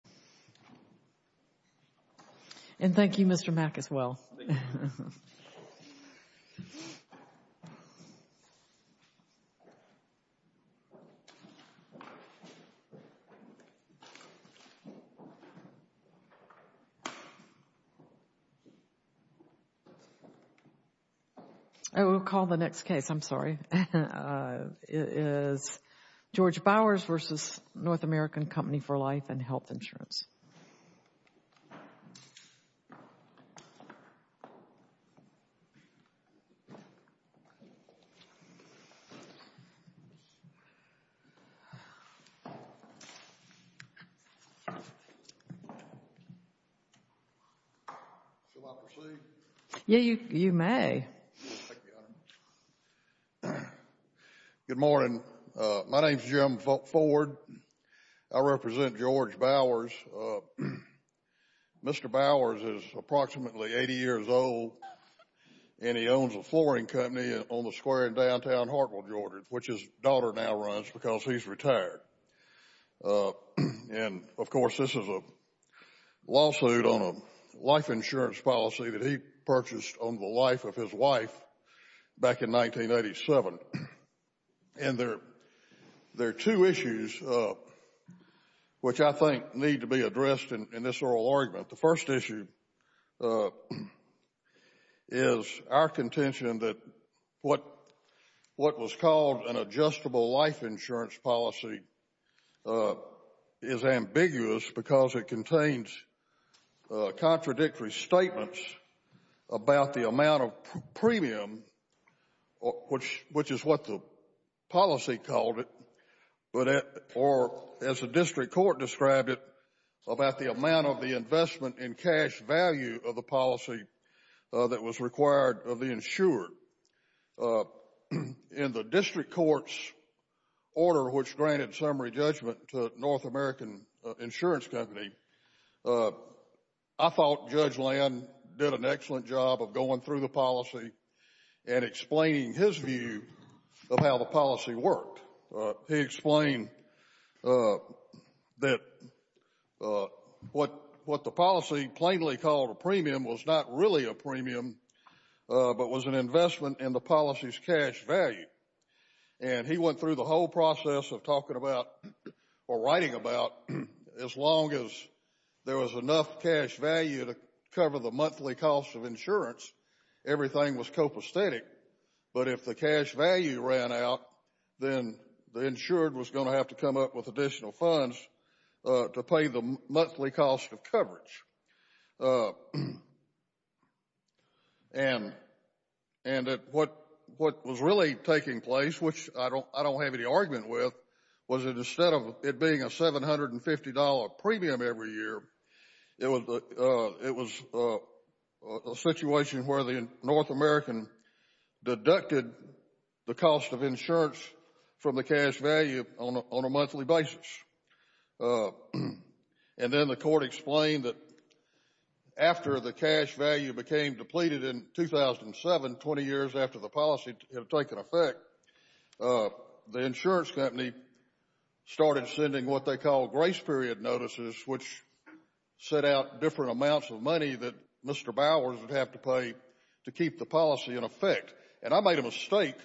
for Life and Health Insurance. Good morning. My name is Jim Ford. I represent George Bowers. I'm the president of the North American Company for Life and Health Insurance. Mr. Bowers is approximately 80 years old and he owns a flooring company on the square in downtown Hartwell, Georgia, which his daughter now runs because he's retired. And, of course, this is a lawsuit on a life insurance policy that he purchased on the life of his wife back in 1987. And there are two issues which I think need to be addressed in this oral argument. The first issue is our contention that what was called an adjustable life insurance policy is ambiguous because it contains contradictory statements about the amount of premium, which is what the policy called it, or as the district court described it, about the amount of the investment in cash value of the policy that was required of the insured. In the district court's order, which granted summary judgment to North American Insurance Company, I thought Judge Land did an excellent job of going through the policy and explaining his view of how the policy worked. He explained that what the policy plainly called a premium was not really a premium but was an investment in the policy's cash value. And he went through the whole process of talking about or writing about as long as there was enough cash value to cover the monthly cost of insurance, everything was copacetic. But if the cash value ran out, then the insured was going to have to come up with additional funds to pay the monthly cost of coverage. And what was really taking place, which I don't have any argument with, was that instead of it being a $750 premium every year, it was a situation where the North American deducted the cost of insurance from the cash value on a monthly basis. And then the court explained that after the cash value became depleted in 2007, 20 years after the policy had taken effect, the insurance company started sending what they call grace period notices, which set out different amounts of money that Mr. Bowers would have to pay to keep the policy in effect. And I made a mistake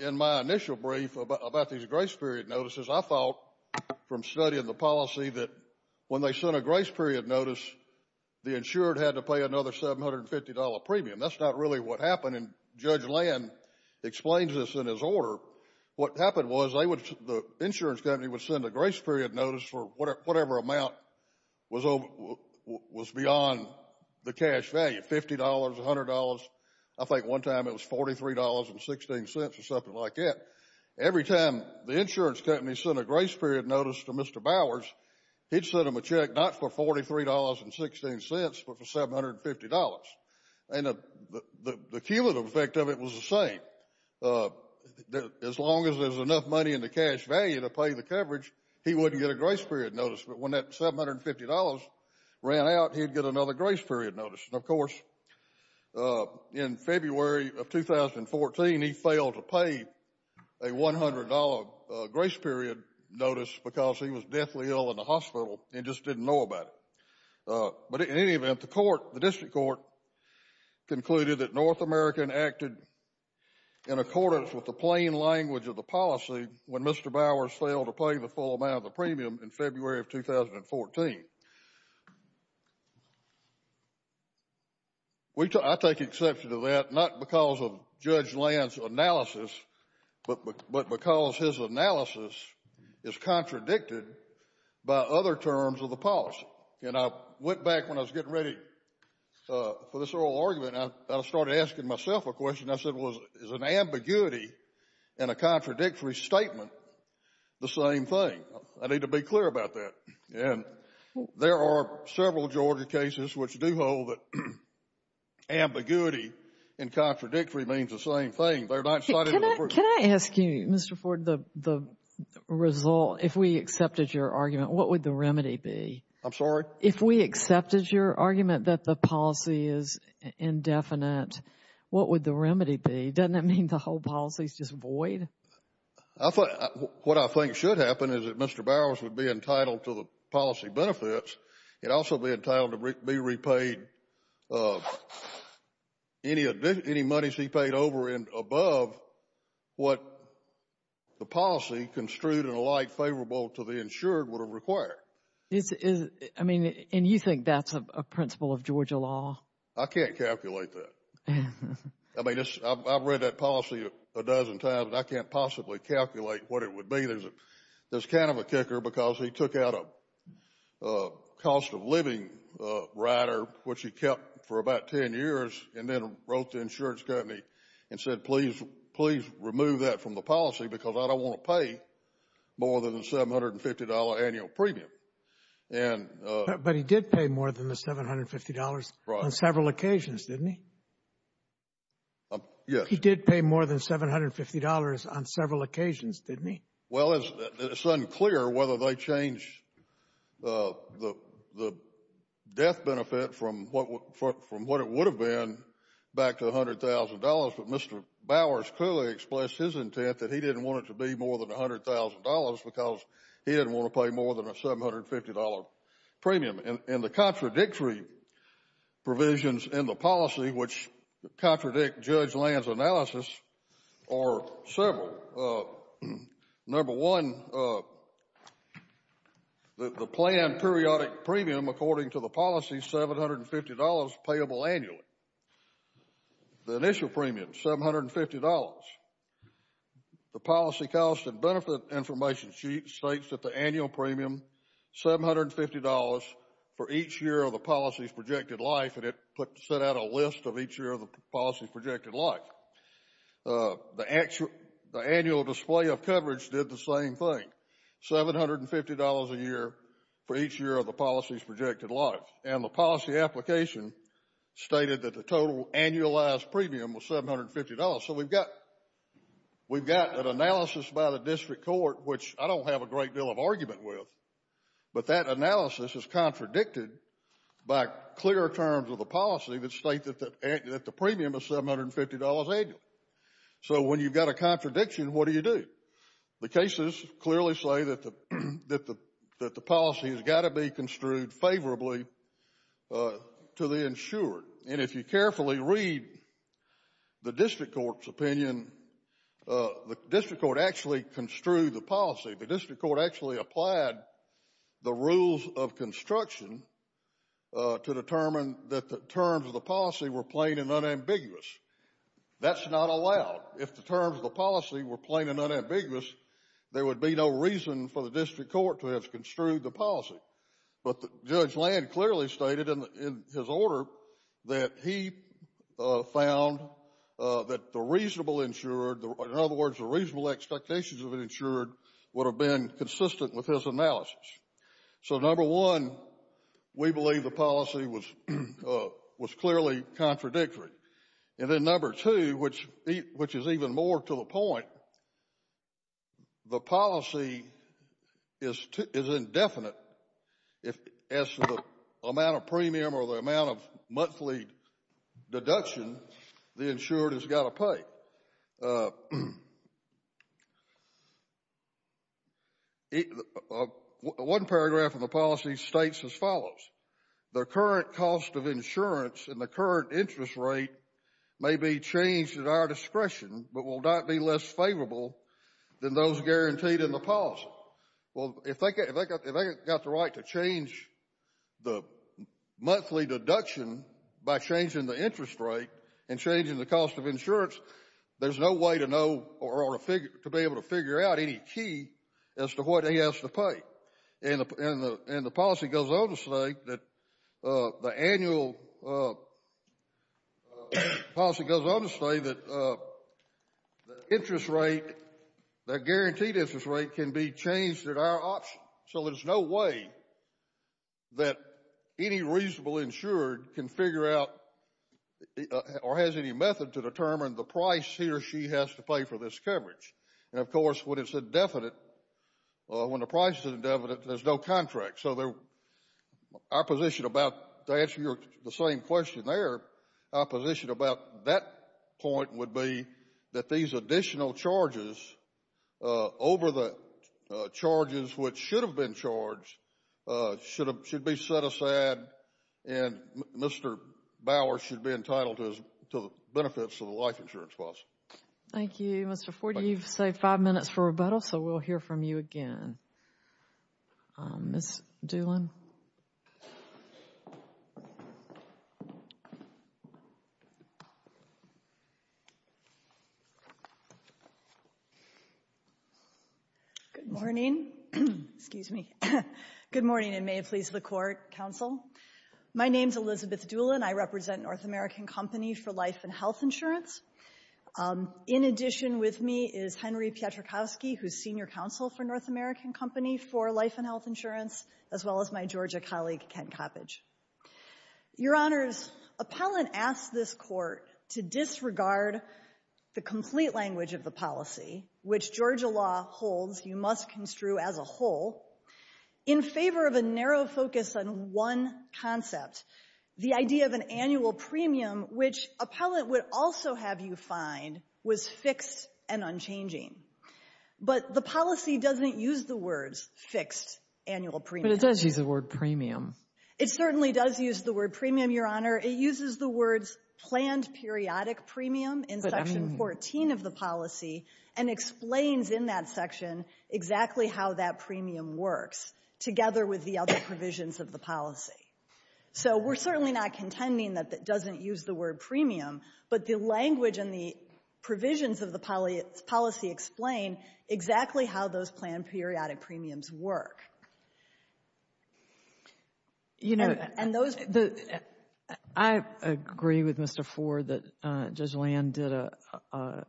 in my initial brief about these grace period notices. I thought from studying the policy that when they sent a grace period notice, the insured had to pay another $750 premium. That's not really what happened. And Judge Land explains this in his order. What happened was the insurance company would send a grace period notice for whatever amount was beyond the cash value, $50, $100. I think one time it was $43.16 or something like that. Every time the insurance company sent a grace period notice to Mr. Bowers, he'd send him a check not for $43.16 but for $750. And the cumulative effect of it was the same. As long as there's enough money in the cash value to pay the coverage, he wouldn't get a grace period notice. But when that $750 ran out, he'd get another grace period notice. And of course, in February of 2014, he failed to pay a $100 grace period notice because he was deathly ill in the hospital and just didn't know about it. But in any event, the court, the district court, concluded that North America had acted in accordance with the plain language of the policy when Mr. Bowers failed to pay the full amount of the premium in February of 2014. I take exception to that, not because of Judge Land's analysis, but because his analysis is contradicted by other terms of the policy. And I went back when I was getting ready for this oral argument and I started asking myself a question. I said, well, is an ambiguity and a contradictory statement the same thing? I need to be clear about that. And there are several Georgia cases which do hold that ambiguity and contradictory means the same thing. They're not cited in the version. Can I ask you, Mr. Ford, the result, if we accepted your argument, what would the remedy be? I'm sorry? If we accepted your argument that the policy is indefinite, what would the remedy be? Doesn't that mean the whole policy is just void? What I think should happen is that Mr. Bowers would be entitled to the policy benefits. He'd also be entitled to be repaid any monies he paid over and above what the policy construed in a light favorable to the insured would have required. I mean, and you think that's a principle of Georgia law? I can't calculate that. I mean, I've read that policy a dozen times. I can't possibly calculate what it would be. There's kind of a kicker because he took out a cost-of-living rider which he kept for about 10 years and then wrote the insurance company and said, please remove that from the policy because I don't want to pay more than the $750 annual premium. But he did pay more than the $750 on several occasions, didn't he? Yes. But he did pay more than $750 on several occasions, didn't he? Well, it's unclear whether they changed the death benefit from what it would have been back to $100,000, but Mr. Bowers clearly expressed his intent that he didn't want it to be more than $100,000 because he didn't want to pay more than a $750 premium. And the contradictory provisions in the policy which contradict Judge Land's analysis are several. Number one, the planned periodic premium, according to the policy, $750 payable annually. The initial premium, $750. The policy cost and benefit information sheet states that the annual premium, $750 for each year of the policy's projected life, and it set out a list of each year of the policy's projected life. The annual display of coverage did the same thing, $750 a year for each year of the policy's projected life. And the policy application stated that the total annualized premium was $750. So we've got an analysis by the district court, which I don't have a great deal of argument with, but that analysis is contradicted by clearer terms of the policy that state that the premium is $750 annually. So when you've got a contradiction, what do you do? The cases clearly say that the policy has got to be construed favorably to the insured. And if you carefully read the district court's construed the policy, the district court actually applied the rules of construction to determine that the terms of the policy were plain and unambiguous. That's not allowed. If the terms of the policy were plain and unambiguous, there would be no reason for the district court to have construed the policy. But Judge Land clearly stated in his order that he found that the reasonable insured, in other words, the reasonable expectations of an insured, would have been consistent with his analysis. So number one, we believe the policy was clearly contradictory. And then number two, which is even more to the point, the policy is indefinite as to the amount of premium or the amount of monthly deduction the insured has got to pay. One paragraph of the policy states as follows, the current cost of insurance and the current interest rate may be changed at our discretion but will not be less favorable than those guaranteed in the policy. Well, if they got the right to change the monthly deduction by changing the interest rate and changing the cost of insurance, there's no way to know or to be able to figure out any key as to what he has to pay. And the policy goes on to say that the annual policy goes on to say that the interest rate, the guaranteed interest rate can be changed at our option. So there's no way that any reasonable insured can figure out or has any method to determine the price he or she has to pay for this coverage. And of course, when it's indefinite, when the price is indefinite, there's no contract. So our position about, to answer the same question there, our position about that point would be that these additional charges over the charges which should have been charged should be set aside and Mr. Bower should be entitled to the benefits of the life insurance policy. Thank you. Mr. Ford, you've saved five minutes for rebuttal, so we'll hear from you again. Ms. Doolin. Good morning. Excuse me. Good morning, and may it please the Court, counsel. My name's Elizabeth Doolin. I represent North American Company for Life and Health Insurance. In addition with me is Henry Pietrakowski, who's Senior Counsel for North American Company for Life and Health Insurance, as well as my Georgia colleague, Ken Coppedge. Your Honors, Appellant asked this Court to disregard the complete language of the policy, which Georgia law holds you must construe as a whole, in favor of a narrow focus on one concept, the idea of an annual premium, which Appellant would also have you find was fixed and unchanging. But the policy doesn't use the words fixed annual premium. But it does use the word premium. It certainly does use the word premium, Your Honor. It uses the words planned periodic premium in Section 14 of the policy and explains in that section exactly how that premium works, together with the other provisions of the policy. So we're certainly not contending that it doesn't use the word premium, but the language and the provisions of the policy explain exactly how those planned periodic premiums work. You know, and those — I agree with Mr. Ford that Judge Land did a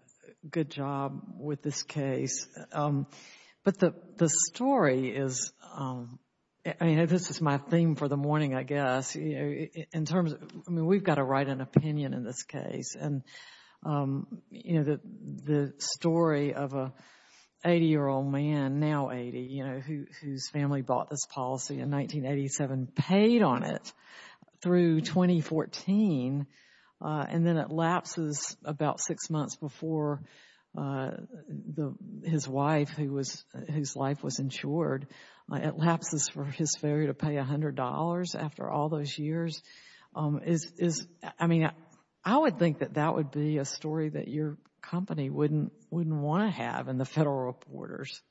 good job with this case. But the story is — I mean, this is my theme for the morning, I guess, in terms of — I mean, we've got to write an opinion in this case. And, you know, the story of an 80-year-old man, now 80, you know, whose family bought this policy in 1987, paid on it through 2014, and then it lapses about six months before his wife, whose life was insured, it lapses for his failure to pay $100 after all those years, is — I mean, I would think that that would be a story that your company wouldn't want to have in the Federal Reporters.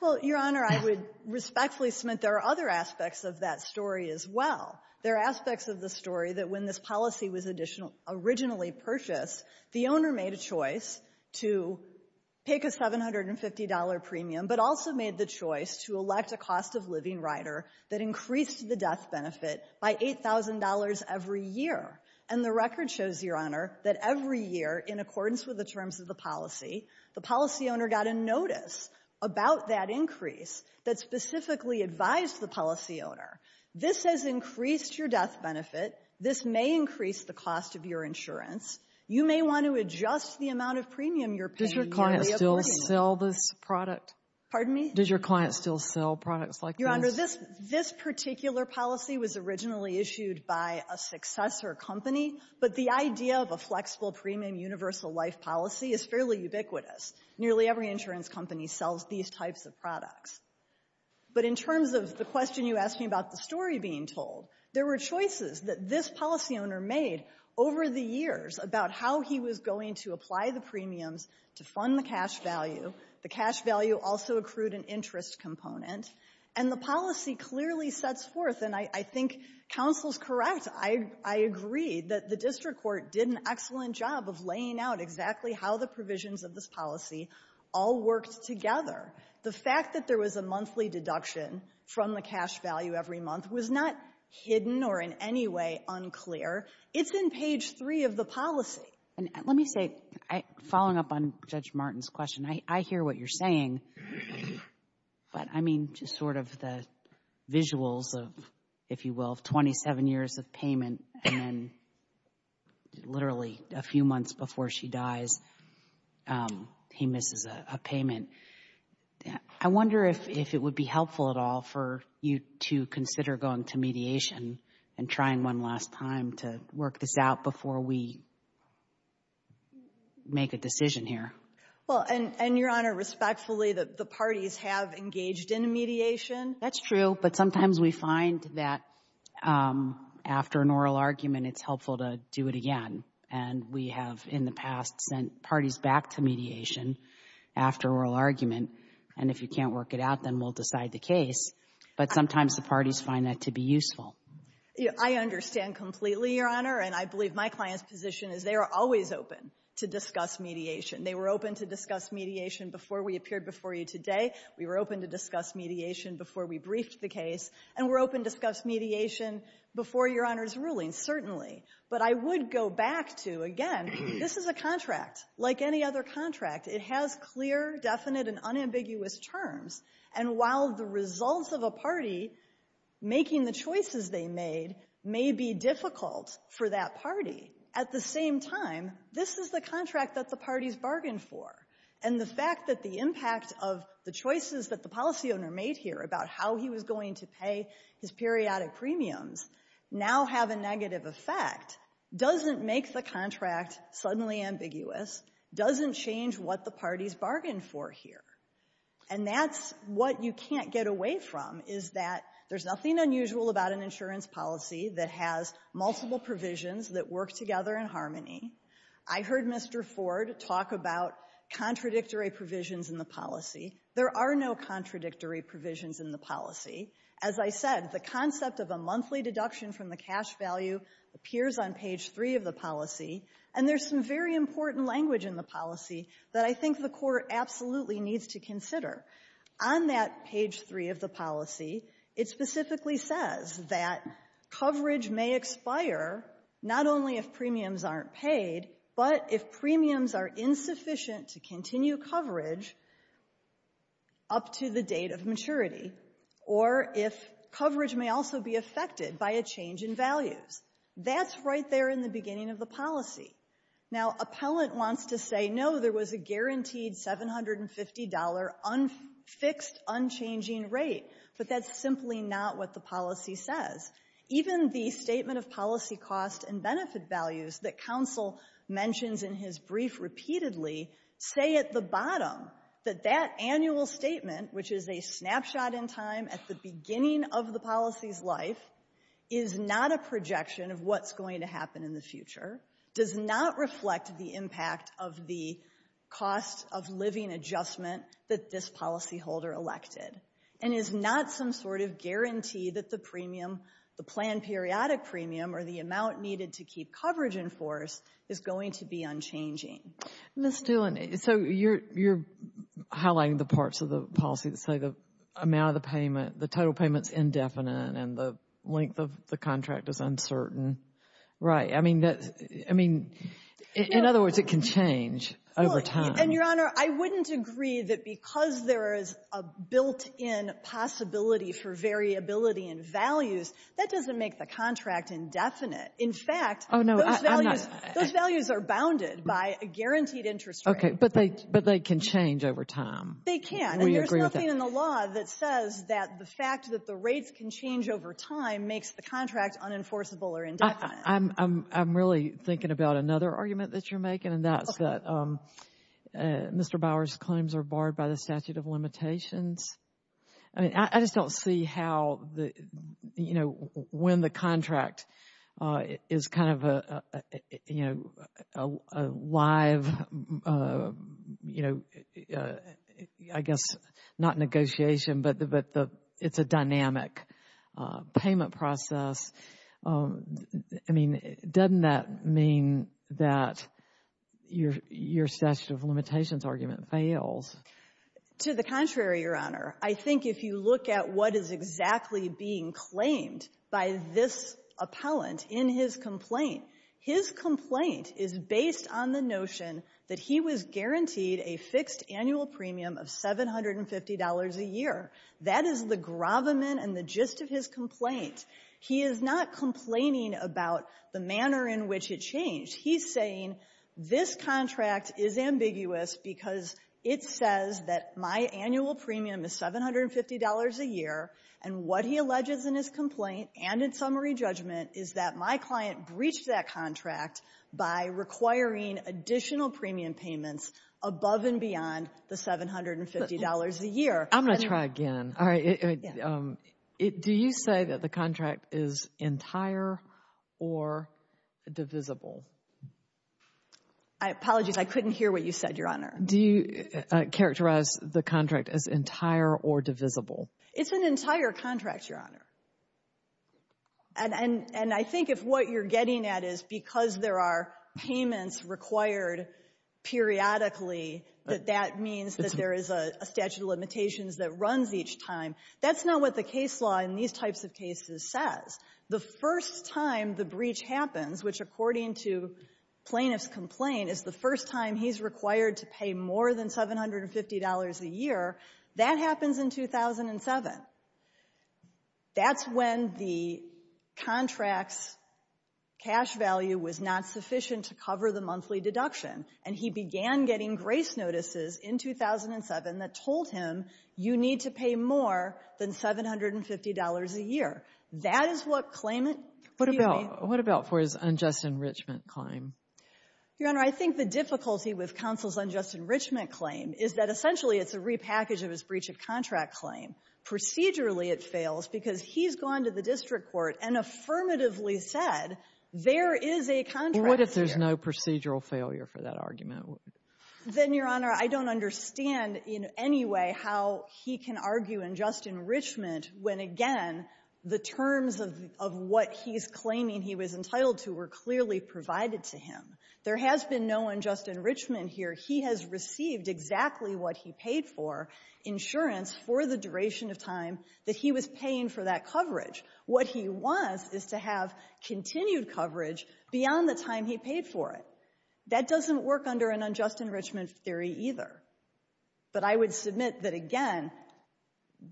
Well, Your Honor, I would respectfully submit there are other aspects of that story as well. There are aspects of the story that when this policy was originally purchased, the owner made a choice to pick a $750 premium, but also made the choice to elect a cost-of-living rider that increased the death benefit by $8,000 every year. And the record shows, Your Honor, that every year, in accordance with the terms of the policy, the policy owner got a notice about that increase that specifically advised the policy owner, this has increased your death benefit, this may increase the cost of your insurance. You may want to adjust the amount of premium you're paying to the apportionment. Does your client still sell this product? Pardon me? Does your client still sell products like this? Your Honor, this — this particular policy was originally issued by a successor company, but the idea of a flexible premium universal life policy is fairly ubiquitous. Nearly every insurance company sells these types of products. But in terms of the question you asked me about the story being told, there were choices that this policy owner made over the years about how he was going to apply the premiums to fund the cash value. The cash value also accrued an interest component. And the policy clearly sets forth, and I think counsel is correct, I agree, that the district court did an excellent job of laying out exactly how the provisions of this policy all worked together. The fact that there was a monthly deduction from the cash value every month was not hidden or anything like that. It's not in any way unclear. It's in page 3 of the policy. And let me say, following up on Judge Martin's question, I hear what you're saying, but I mean just sort of the visuals of, if you will, 27 years of payment and then literally a few months before she dies, he misses a payment. I wonder if it would be helpful at all for you to consider going to mediation and trying to figure out, and trying one last time to work this out before we make a decision here. Well, and Your Honor, respectfully, the parties have engaged in mediation. That's true, but sometimes we find that after an oral argument it's helpful to do it again. And we have in the past sent parties back to mediation after oral argument. And if you can't work it out, then we'll decide the case. But sometimes the parties find that to be useful. I understand completely, Your Honor. And I believe my client's position is they are always open to discuss mediation. They were open to discuss mediation before we appeared before you today. We were open to discuss mediation before we briefed the case. And we're open to discuss mediation before Your Honor's ruling, certainly. But I would go back to, again, this is a contract. Like any other contract, it has clear, definite, and unambiguous terms. And while the results of a party making the choices they made may be difficult for that party, at the same time, this is the contract that the parties bargained for. And the fact that the impact of the choices that the policy owner made here about how he was going to pay his periodic premiums now have a negative effect doesn't make the contract suddenly ambiguous, doesn't change what the policy owner made. So I think the bottom line is that there's nothing unusual about an insurance policy that has multiple provisions that work together in harmony. I heard Mr. Ford talk about contradictory provisions in the policy. There are no contradictory provisions in the policy. As I said, the concept of a monthly deduction from the cash value appears on page 3 of the policy. And there's some very important language in the policy that I think the Court absolutely needs to consider. On that page 3 of the policy, it specifically says that coverage may expire not only if premiums aren't paid, but if premiums are insufficient to continue coverage up to the date of maturity, or if coverage may also be affected by a change in values. That's right there in the beginning of the policy. Now, appellant wants to say, no, there was a guaranteed $750 fixed, unchanging rate. But that's simply not what the policy says. Even the statement of policy cost and benefit values that counsel mentions in his brief repeatedly say at the bottom that that annual statement, which is a snapshot in time at the beginning of the policy's life, is not a projection of what's going to happen in the future, does not reflect the impact of the cost of living adjustment that this policyholder elected, and is not some sort of guarantee that the premium, the planned periodic premium, or the amount needed to keep coverage in force is going to be unchanging. Ms. Doolin, so you're highlighting the parts of the policy that say the amount of the payment, the total payment's indefinite, and the length of the contract is uncertain. Right. I mean, in other words, it can change over time. And, Your Honor, I wouldn't agree that because there is a built-in possibility for variability in values, that doesn't make the contract indefinite. In fact, those values are bounded by a guaranteed interest rate. But they can change over time. They can. And there's nothing in the law that says that the fact that the rates can change over time makes the contract unenforceable or indefinite. I'm really thinking about another argument that you're making, and that's that Mr. Bower's claims are barred by the statute of limitations. I mean, I just don't see how, you know, when the contract is kind of a, you know, a live, you know, I guess not negotiation, but it's a dynamic payment process. I mean, doesn't that mean that your statute of limitations argument fails? To the contrary, Your Honor. I think if you look at what is exactly being claimed by this appellant in his complaint, his complaint is based on the notion that he was guaranteed a fixed annual premium of $750 a year. That is the gravamen and the gist of his complaint. He is not complaining about the manner in which it changed. He's saying this contract is ambiguous because it says that my annual premium is $750 a year, and what he alleges in his complaint and in summary judgment is that my client breached that contract by requiring additional premium payments above and beyond the $750 a year. I'm going to try again. All right. Do you say that the contract is entire or divisible? Apologies. I couldn't hear what you said, Your Honor. Do you characterize the contract as entire or divisible? It's an entire contract, Your Honor. And I think if what you're getting at is because there are payments required periodically, that that means that there is a statute of limitations that runs each time, that's not what the case law in these types of cases says. The first time the breach happens, which according to plaintiff's complaint, is the first time he's required to pay more than $750 a year, that happens in 2007. That's when the contract's cash value was not sufficient to cover the monthly deduction, and he began getting grace notices in 2007 that told him you need to pay more than $750 a year. That is what claimant premium means. What about for his unjust enrichment claim? Your Honor, I think the difficulty with counsel's unjust enrichment claim is that essentially it's a repackage of his breach of contract claim. Procedurally, it fails because he's gone to the district court and affirmatively said there is a contract here. Well, what if there's no procedural failure for that argument? Then, Your Honor, I don't understand in any way how he can argue unjust enrichment when, again, the terms of what he's claiming he was entitled to were clearly provided to him. There has been no unjust enrichment here. He has received exactly what he paid for, insurance, for the duration of time that he was paying for that coverage. What he wants is to have continued coverage beyond the time he paid for it. That doesn't work under an unjust enrichment theory either. But I would submit that, again,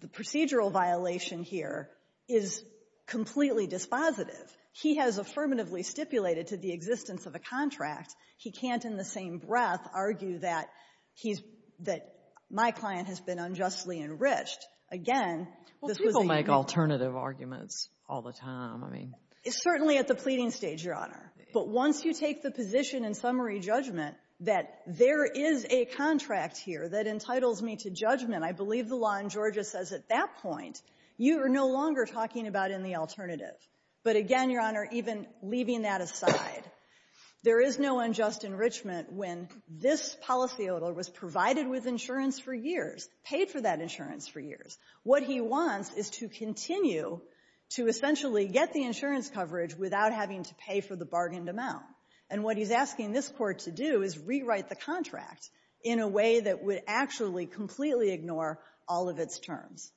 the procedural violation here is completely dispositive. He has affirmatively stipulated to the existence of a contract. He can't, in the same breath, argue that he's — that my client has been unjustly enriched. Again, this was a — Well, people make alternative arguments all the time. I mean — Certainly at the pleading stage, Your Honor. But once you take the position in summary judgment that there is a contract here that entitles me to judgment, I believe the law in Georgia says at that point you are no longer talking about in the alternative. But again, Your Honor, even leaving that aside, there is no unjust enrichment when this policyholder was provided with insurance for years, paid for that insurance for years. What he wants is to continue to essentially get the insurance coverage without having to pay for the bargained amount. And what he's asking this Court to do is rewrite the contract in a way that would actually completely ignore all of its terms.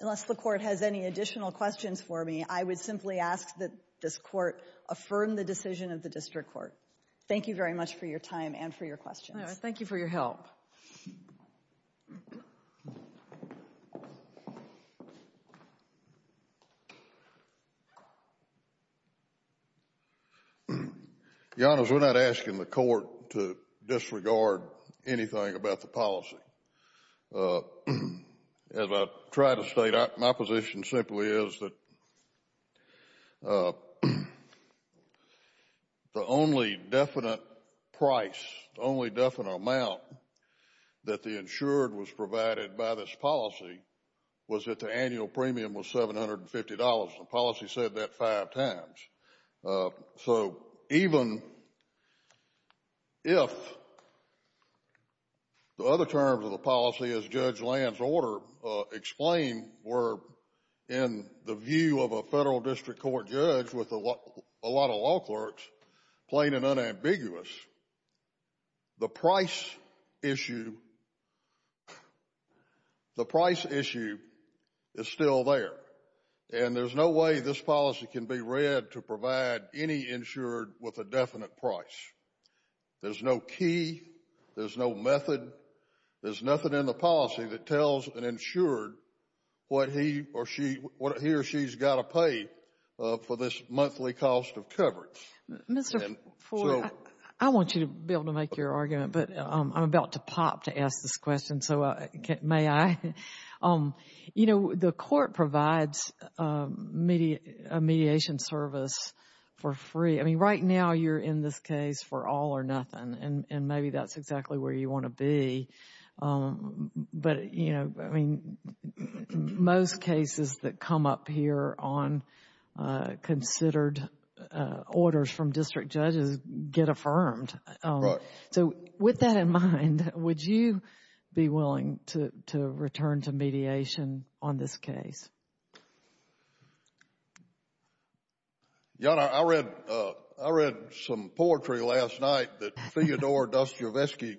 Unless the Court has any additional questions for me, I would simply ask that this Court affirm the decision of the District Court. Thank you very much for your time and for your questions. All right. Thank you for your help. Your Honors, we're not asking the Court to disregard anything about the policy. As I try to state, my position simply is that the only definite price, the only definite amount that the insured was provided by this policy was that the annual premium was $750. The policy said that five times. So even if the other terms of the policy, as Judge Land's order explained, were in the view of a Federal District Court judge with a lot of law clerks, plain and unambiguous, the price issue, the price issue is still there. And there's no way this policy can be read to provide any insured with a definite price. There's no key. There's no method. There's nothing in the policy that tells an insured what he or she, what he or she's got to pay for this monthly cost of coverage. Mr. Fore, I want you to be able to make your argument, but I'm about to pop to ask this question, so may I? You know, the court provides a mediation service for free. I mean, right now, you're in this case for all or nothing, and maybe that's exactly where you want to be. But, you know, I mean, most cases that come up here on considered orders from district judges get affirmed. Right. So with that in mind, would you be willing to return to mediation on this case? Your Honor, I read some poetry last night that Theodore Dostoevsky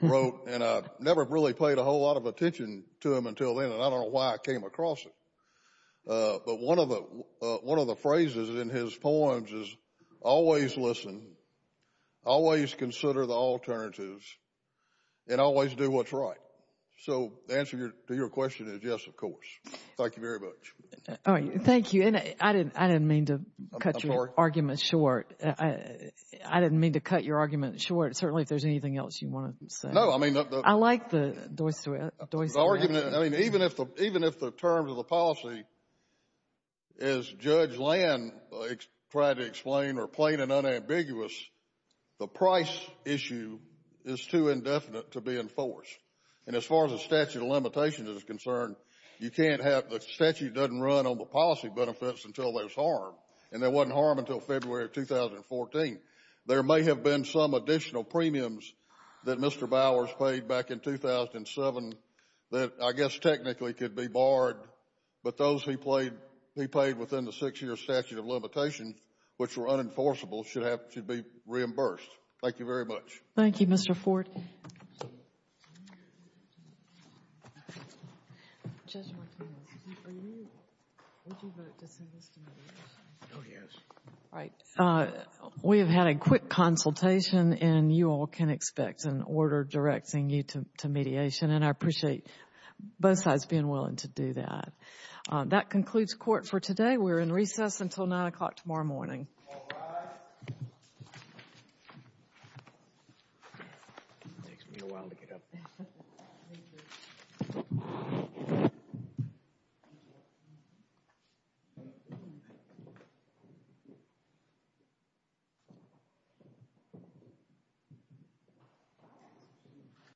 wrote, and I never really paid a whole lot of attention to him until then, and I don't know why I came across it. But one of the phrases in his poems is, always listen, always consider the alternatives, and always do what's right. So the answer to your question is yes, of course. Thank you very much. All right. Thank you. And I didn't mean to cut your argument short. I didn't mean to cut your argument short. Certainly, if there's anything else you want to say. No, I mean. I like the Dostoevsky. I mean, even if the terms of the policy, as Judge Land tried to explain, are plain and unambiguous, the price issue is too indefinite to be enforced. And as far as the statute of limitations is concerned, you can't have, the statute doesn't run on the policy benefits until there's harm, and there wasn't harm until February of 2014. There may have been some additional premiums that Mr. Bowers paid back in 2007 that I guess technically could be barred, but those he paid within the six-year statute of limitations, which were unenforceable, should be reimbursed. Thank you very much. Thank you, Mr. Ford. Judge Martinez, are you, would you vote to send this to me? Oh, yes. All right. We have had a quick consultation, and you all can expect an order directing you to mediation, and I appreciate both sides being willing to do that. That concludes court for today. We're in recess until 9 o'clock tomorrow morning. All rise. It takes me a while to get up.